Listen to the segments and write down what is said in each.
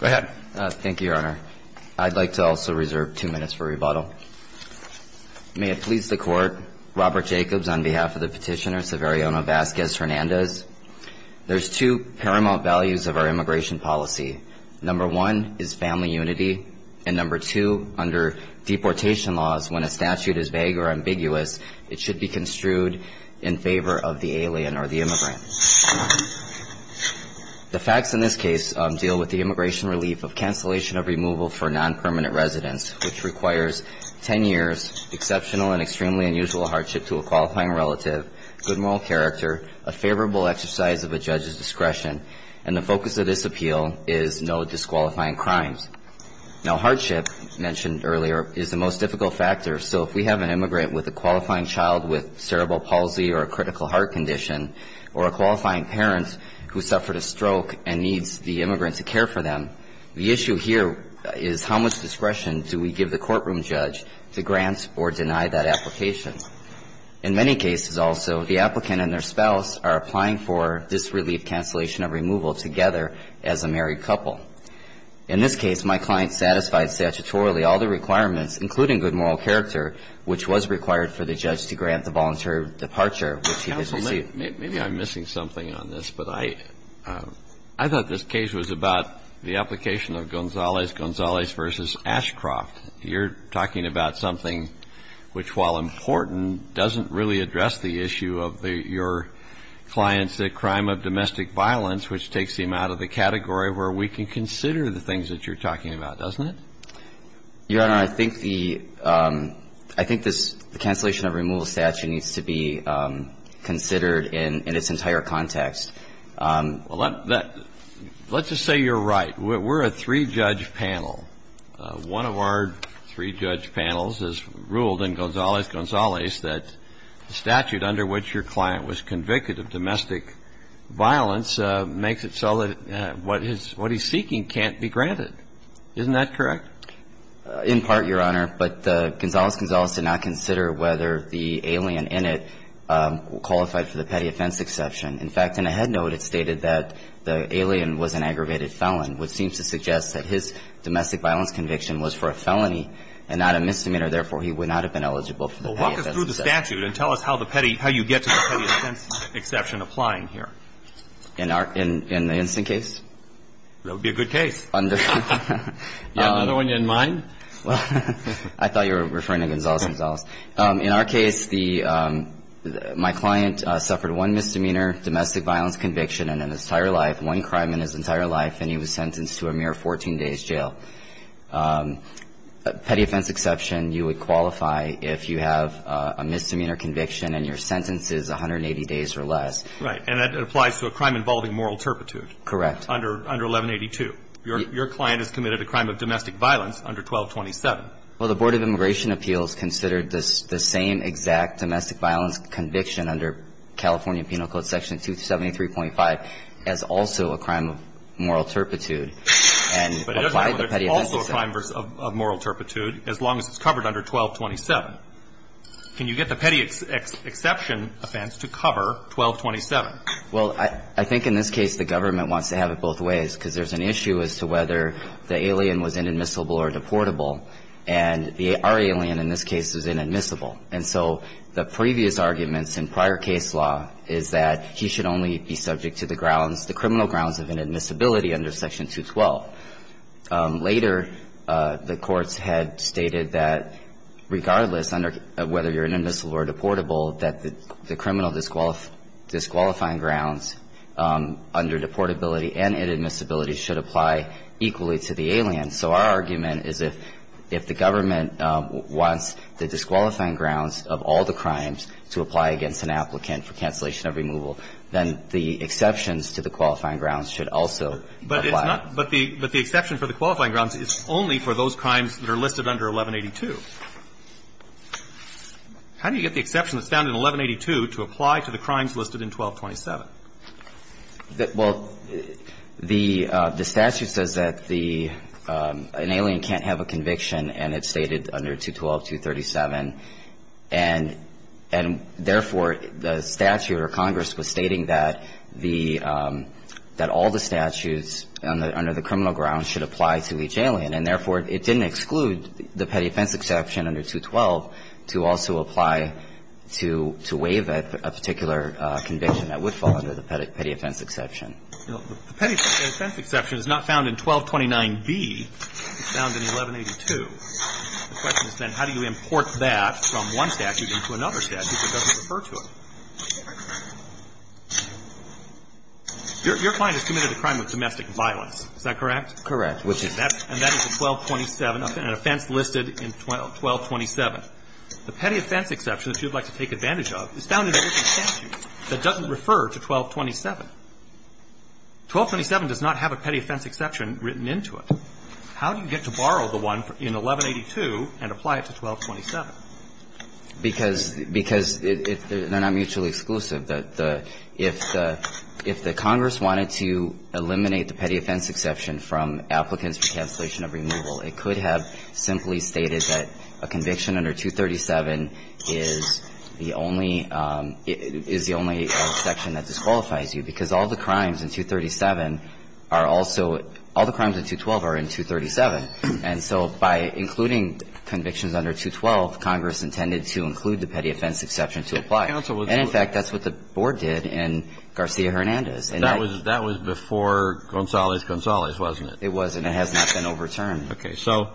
Go ahead. Thank you, Your Honor. I'd like to also reserve two minutes for rebuttal. May it please the Court, Robert Jacobs on behalf of the petitioner Severiano Vasquez-Hernandez. There's two paramount values of our immigration policy. Number one is family unity and number two under deportation laws when a statute is vague or ambiguous it should be construed in favor of the alien or the immigrant. The facts in this case deal with the immigration relief of cancellation of removal for non-permanent residents which requires 10 years exceptional and extremely unusual hardship to a qualifying relative, good moral character, a favorable exercise of a judge's discretion, and the focus of this appeal is no disqualifying crimes. Now hardship mentioned earlier is the most difficult factor so if we have an immigrant with a qualifying child with or a qualifying parent who suffered a stroke and needs the immigrant to care for them, the issue here is how much discretion do we give the courtroom judge to grant or deny that application. In many cases also the applicant and their spouse are applying for this relief cancellation of removal together as a married couple. In this case my client satisfied statutorily all the requirements including good moral character which was required for the judge to grant the voluntary departure which he could receive. Maybe I'm missing something on this but I thought this case was about the application of Gonzalez-Gonzalez versus Ashcroft. You're talking about something which while important doesn't really address the issue of your client's crime of domestic violence which takes him out of the category where we can consider the things that you're talking about, doesn't it? Your Honor, I think the, I think this cancellation of removal statute needs to be considered in its entire context. Well, let's just say you're right. We're a three-judge panel. One of our three-judge panels has ruled in Gonzalez-Gonzalez that the statute under which your client was convicted of domestic violence makes it so that what he's seeking can't be granted. Isn't that correct? In part, Your Honor. But Gonzalez-Gonzalez did not consider whether the alien in it qualified for the petty offense exception. In fact, in a head note it stated that the alien was an aggravated felon which seems to suggest that his domestic violence conviction was for a felony and not a misdemeanor. Therefore, he would not have been eligible for the petty offense exception. Well, walk us through the statute and tell us how the petty, how you get to the petty offense exception applying here. In our, in the instant case? That would be a good case. You have another one in mind? I thought you were referring to Gonzalez-Gonzalez. In our case, the, my client suffered one misdemeanor domestic violence conviction in his entire life, one crime in his entire life, and he was sentenced to a mere 14 days jail. Petty offense exception, you would qualify if you have a misdemeanor conviction and your sentence is 180 days or less. Right. And that applies to a crime involving moral turpitude. Correct. Under 1182. Your client has committed a crime of domestic violence under 1227. Well, the Board of Immigration Appeals considered the same exact domestic violence conviction under California Penal Code Section 273.5 as also a crime of moral turpitude. But it doesn't matter if it's also a crime of moral turpitude as long as it's covered under 1227. Can you get the petty exception offense to cover 1227? Well, I think in this case the government wants to have it both ways because there's an issue as to whether the alien was inadmissible or deportable, and our alien in this case is inadmissible. And so the previous arguments in prior case law is that he should only be subject to the grounds, the criminal grounds of inadmissibility under Section 212. Later, the courts had stated that regardless of whether you're inadmissible or deportable, that the criminal disqualifying of the alien was inadmissible or deportable should apply equally to the alien. And so our argument is if the government wants the disqualifying grounds of all the crimes to apply against an applicant for cancellation of removal, then the exceptions to the qualifying grounds should also apply. But it's not the exception for the qualifying grounds is only for those crimes that are listed under 1182. How do you get the exception that's found in 1182 to apply to the crimes listed in 1227? Well, the statute says that the an alien can't have a conviction, and it's stated under 212.237. And therefore, the statute or Congress was stating that the that all the statutes under the criminal grounds should apply to each alien. And therefore, it didn't exclude the petty offense exception under 212 to also apply to waive a particular conviction that would fall under the petty offense exception. Now, the petty offense exception is not found in 1229B. It's found in 1182. The question is then how do you import that from one statute into another statute that doesn't refer to it? Your client has committed a crime of domestic violence. Is that correct? Correct. And that is a 1227 offense listed in 1227. The petty offense exception that you'd like to take advantage of is found in every statute that doesn't refer to 1227. 1227 does not have a petty offense exception written into it. How do you get to borrow the one in 1182 and apply it to 1227? Because they're not mutually exclusive. If the Congress wanted to eliminate the petty offense exception from applicants for cancellation of removal, it could have simply stated that a conviction under 237 is the only section that disqualifies you, because all the crimes in 237 are also – all the crimes in 212 are in 237. And so by including convictions under 212, Congress intended to include the petty offense exception to apply. And in fact, that's what the Board did in Garcia-Hernandez. And that was before Gonzalez-Gonzalez, wasn't it? It was, and it has not been overturned. Okay. So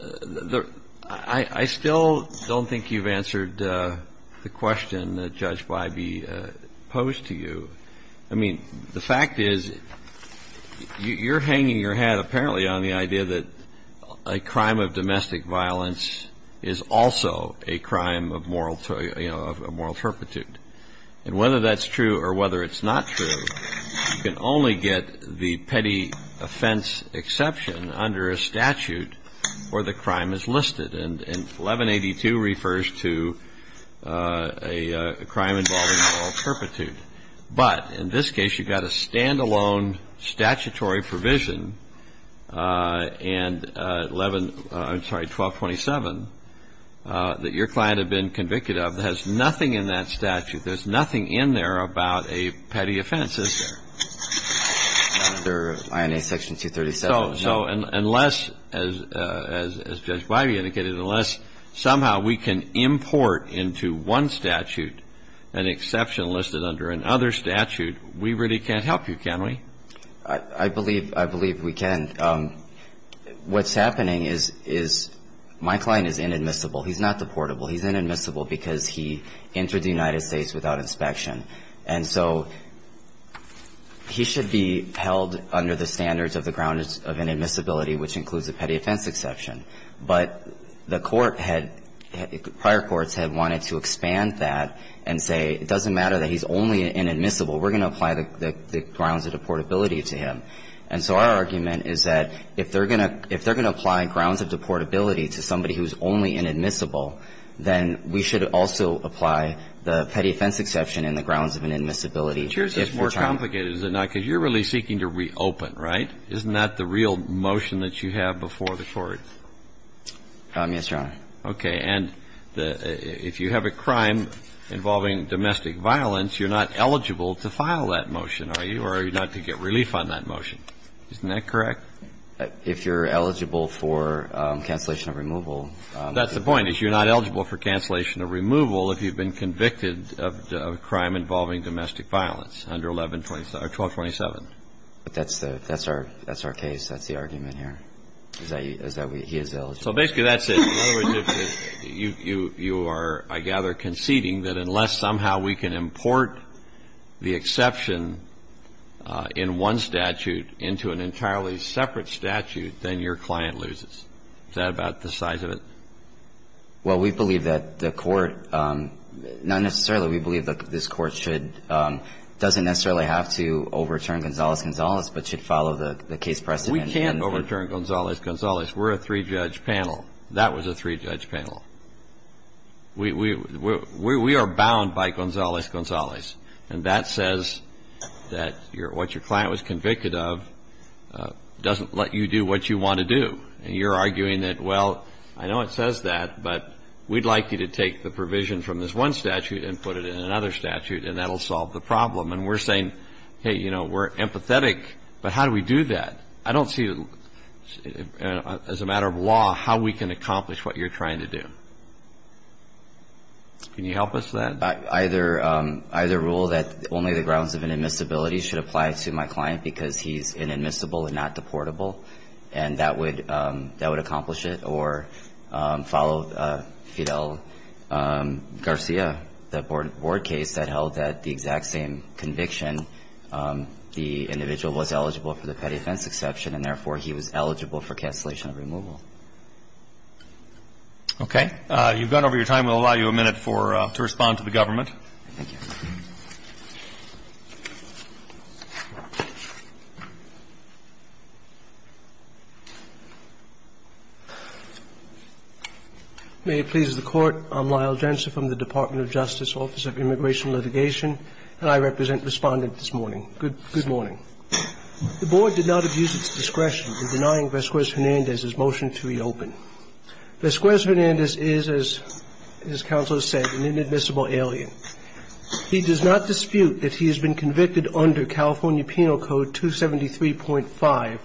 the – I still don't think you've answered the question that Judge Bybee posed to you. I mean, the fact is, you're hanging your hat apparently on the idea that a crime of domestic violence is also a crime of moral – you know, of moral turpitude. And whether that's true or whether it's not true, you can only get the petty offense exception under a statute where the crime is listed. And 1182 refers to a crime involving moral turpitude. But in this case, you've got a standalone statutory provision, and 11 – I'm sorry, 1227, that your client had been convicted of that has nothing in that statute. There's nothing in there about a petty offense, is there? Under INA Section 237, no. So unless, as Judge Bybee indicated, unless somehow we can import into one statute an exception listed under another statute, we really can't help you, can we? I believe – I believe we can. What's happening is my client is inadmissible. He's not deportable. He's inadmissible because he entered the United States without inspection. And so he should be held under the standards of the grounds of inadmissibility, which includes the petty offense exception. But the court had – prior courts had wanted to expand that and say, it doesn't matter that he's only inadmissible. We're going to apply the grounds of deportability to him. And so our argument is that if they're going to – if they're going to apply grounds of deportability to somebody who's only inadmissible, then we should also apply the petty offense exception in the grounds of inadmissibility. But yours is more complicated, is it not? Because you're really seeking to reopen, right? Isn't that the real motion that you have before the court? Yes, Your Honor. Okay. And the – if you have a crime involving domestic violence, you're not eligible to file that motion, are you, or are you not to get relief on that motion? Isn't that correct? If you're eligible for cancellation of removal. That's the point, is you're not eligible for cancellation of removal if you've been convicted of a crime involving domestic violence under 1127 – or 1227. But that's the – that's our – that's our case. That's the argument here, is that we – he is eligible. So basically that's it. In other words, you are, I gather, conceding that unless somehow we can import the exception in one statute into an entirely separate statute, then your client loses. Is that about the size of it? Well, we believe that the court – not necessarily. We believe that this court should – doesn't necessarily have to overturn Gonzales-Gonzales, but should follow the case precedent. We can overturn Gonzales-Gonzales. We're a three-judge panel. That was a three-judge panel. We – we are bound by Gonzales-Gonzales. And that says that what your client was convicted of doesn't let you do what you want to do. And you're arguing that, well, I know it says that, but we'd like you to take the provision from this one statute and put it in another statute, and that'll solve the problem. And we're saying, hey, you know, we're empathetic, but how do we do that? I don't see, as a matter of law, how we can accomplish what you're trying to do. Can you help us with that? Either – either rule that only the grounds of inadmissibility should apply to my client because he's inadmissible and not deportable. And that would – that would accomplish it. Or follow Fidel Garcia, the board case that held that the exact same conviction, the individual was eligible for the petty offense exception, and therefore he was eligible for cancellation of removal. Okay. You've gone over your time. We'll allow you a minute for – to respond to the government. Thank you. May it please the Court. I'm Lyle Jensen from the Department of Justice, Office of Immigration Litigation, and I represent Respondent this morning. Good morning. The board did not abuse its discretion in denying Vesquez-Hernandez his motion to reopen. Vesquez-Hernandez is, as counsel has said, an inadmissible alien. He does not dispute that he has been convicted under California Penal Code 273.5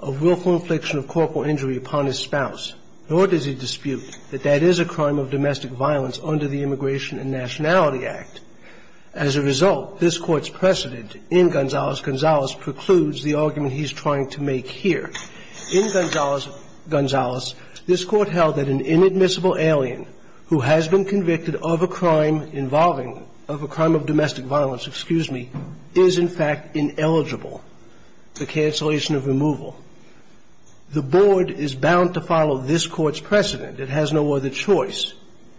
of willful infliction of corporal injury upon his spouse, nor does he dispute that that is a crime of domestic violence under the Immigration and Nationality Act. As a result, this Court's precedent in Gonzales-Gonzales precludes the argument he's trying to make here. In Gonzales-Gonzales, this Court held that an inadmissible alien who has been convicted of a crime involving – of a crime of domestic violence, excuse me, is in fact ineligible to cancellation of removal. The board is bound to follow this Court's precedent. It has no other choice.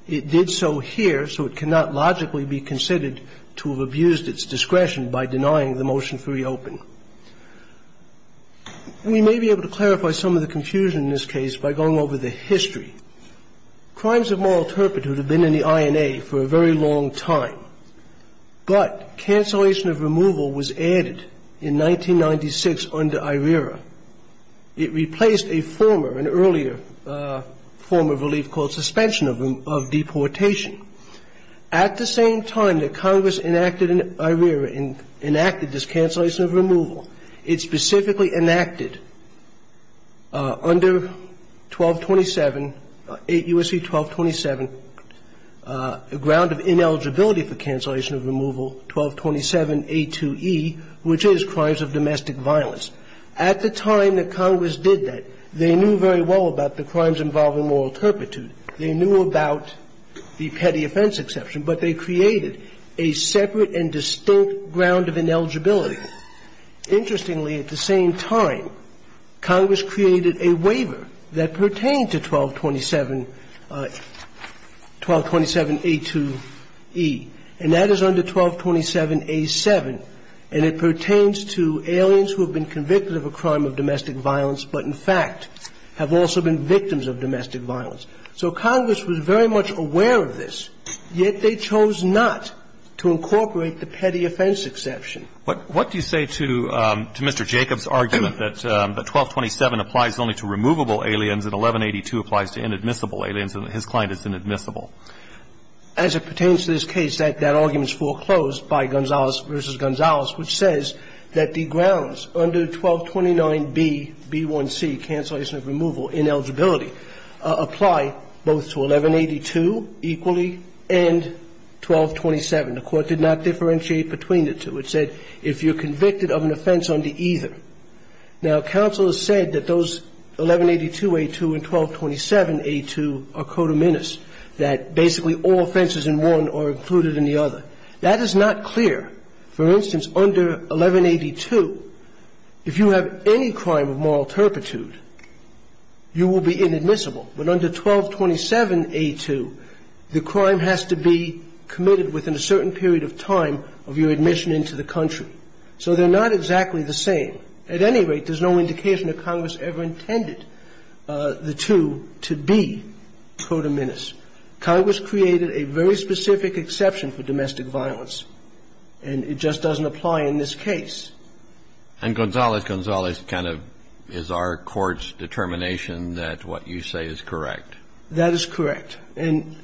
It did so here, so it cannot logically be considered to have abused its discretion by denying the motion to reopen. We may be able to clarify some of the confusion in this case by going over the history. Crimes of moral turpitude have been in the INA for a very long time. But cancellation of removal was added in 1996 under IRERA. It replaced a former, an earlier form of relief called suspension of deportation. At the same time that Congress enacted IRERA and enacted this cancellation of removal, it specifically enacted under 1227, 8 U.S.C. 1227, a ground of ineligibility for cancellation of removal, 1227a2e, which is crimes of domestic violence. At the time that Congress did that, they knew very well about the crimes involving moral turpitude. They knew about the petty offense exception, but they created a separate and distinct ground of ineligibility. Interestingly, at the same time, Congress created a waiver that pertained to 1227, 1227a2e, and that is under 1227a7. And it pertains to aliens who have been convicted of a crime of domestic violence but, in fact, have also been victims of domestic violence. So Congress was very much aware of this, yet they chose not to incorporate the petty offense exception. What do you say to Mr. Jacobs' argument that 1227 applies only to removable aliens and 1182 applies to inadmissible aliens and his client is inadmissible? As it pertains to this case, that argument is foreclosed by Gonzalez v. Gonzalez, which says that the grounds under 1229b, b1c, cancellation of removal, ineligibility, apply both to 1182 equally and 1227. The Court did not differentiate between the two. It said if you're convicted of an offense under either. Now, counsel has said that those 1182a2 and 1227a2 are codominis, that basically all offenses in one are included in the other. That is not clear. For instance, under 1182, if you have any crime of moral turpitude, you will be in the category of inadmissible, but under 1227a2, the crime has to be committed within a certain period of time of your admission into the country. So they're not exactly the same. At any rate, there's no indication that Congress ever intended the two to be codominis. Congress created a very specific exception for domestic violence, and it just doesn't apply in this case. And Gonzalez-Gonzalez kind of is our Court's determination that what you say is correct. That is correct. And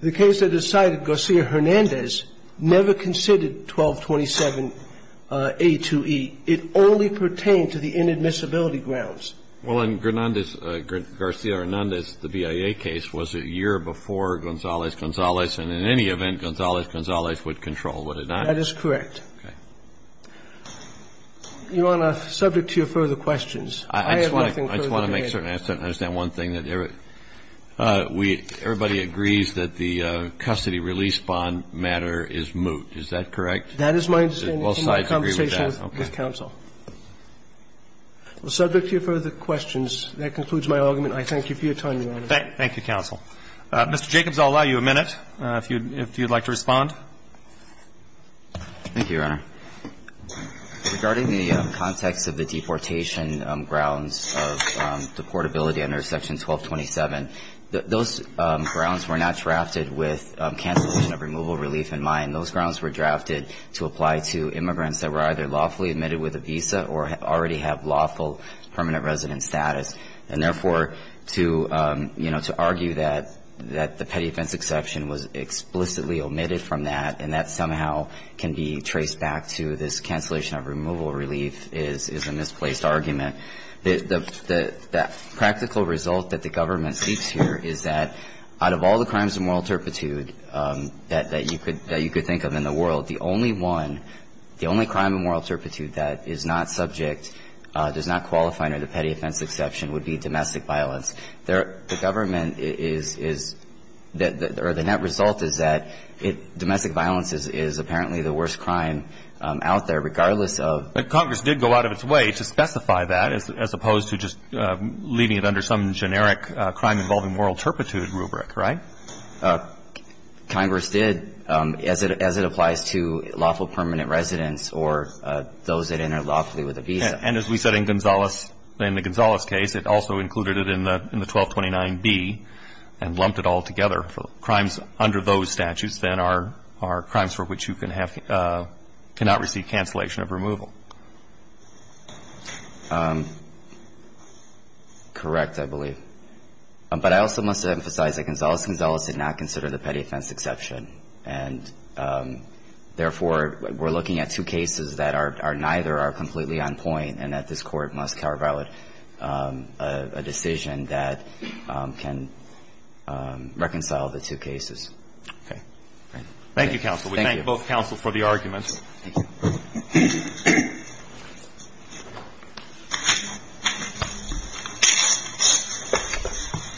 the case that is cited, Garcia-Hernandez, never considered 1227a2e. It only pertained to the inadmissibility grounds. Well, in Garcia-Hernandez, the BIA case, was a year before Gonzalez-Gonzalez, and in any event, Gonzalez-Gonzalez would control, would it not? That is correct. Okay. Your Honor, subject to your further questions. I have nothing further to add. I just want to make certain I understand one thing. Everybody agrees that the custody release bond matter is moot. Is that correct? That is my understanding. Both sides agree with that. Okay. Well, subject to your further questions, that concludes my argument. I thank you for your time, Your Honor. Thank you, counsel. Mr. Jacobs, I'll allow you a minute if you'd like to respond. Thank you, Your Honor. Regarding the context of the deportation grounds of deportability under Section 1227, those grounds were not drafted with cancellation of removal relief in mind. Those grounds were drafted to apply to immigrants that were either lawfully admitted with a visa or already have lawful permanent resident status, and therefore to argue that the petty offense exception was explicitly omitted from that and that somehow can be traced back to this cancellation of removal relief is a misplaced argument. The practical result that the government seeks here is that out of all the crimes of moral turpitude that you could think of in the world, the only one, the only crime of moral turpitude that is not subject, does not qualify under the petty offense exception would be domestic violence. The government is, or the net result is that domestic violence is apparently the worst crime out there, regardless of... But Congress did go out of its way to specify that, as opposed to just leaving it under some generic crime involving moral turpitude rubric, right? Congress did, as it applies to lawful permanent residents or those that enter lawfully with a visa. And as we said in Gonzales, in the Gonzales case, it also included it in the 1229B and lumped it all together. Crimes under those statutes then are crimes for which you cannot receive cancellation of removal. Correct, I believe. But I also must emphasize that Gonzales-Gonzales did not consider the petty offense exception, and, therefore, we're looking at two cases that are neither are completely on point, and that this Court must carve out a decision that can reconcile the two cases. Okay. Thank you, counsel. Thank you. We thank both counsel for the arguments. Thank you.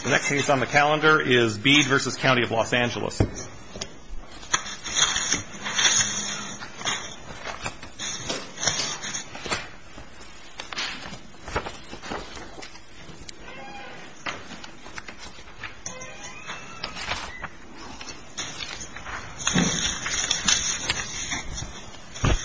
The next case on the calendar is Bede v. County of Los Angeles.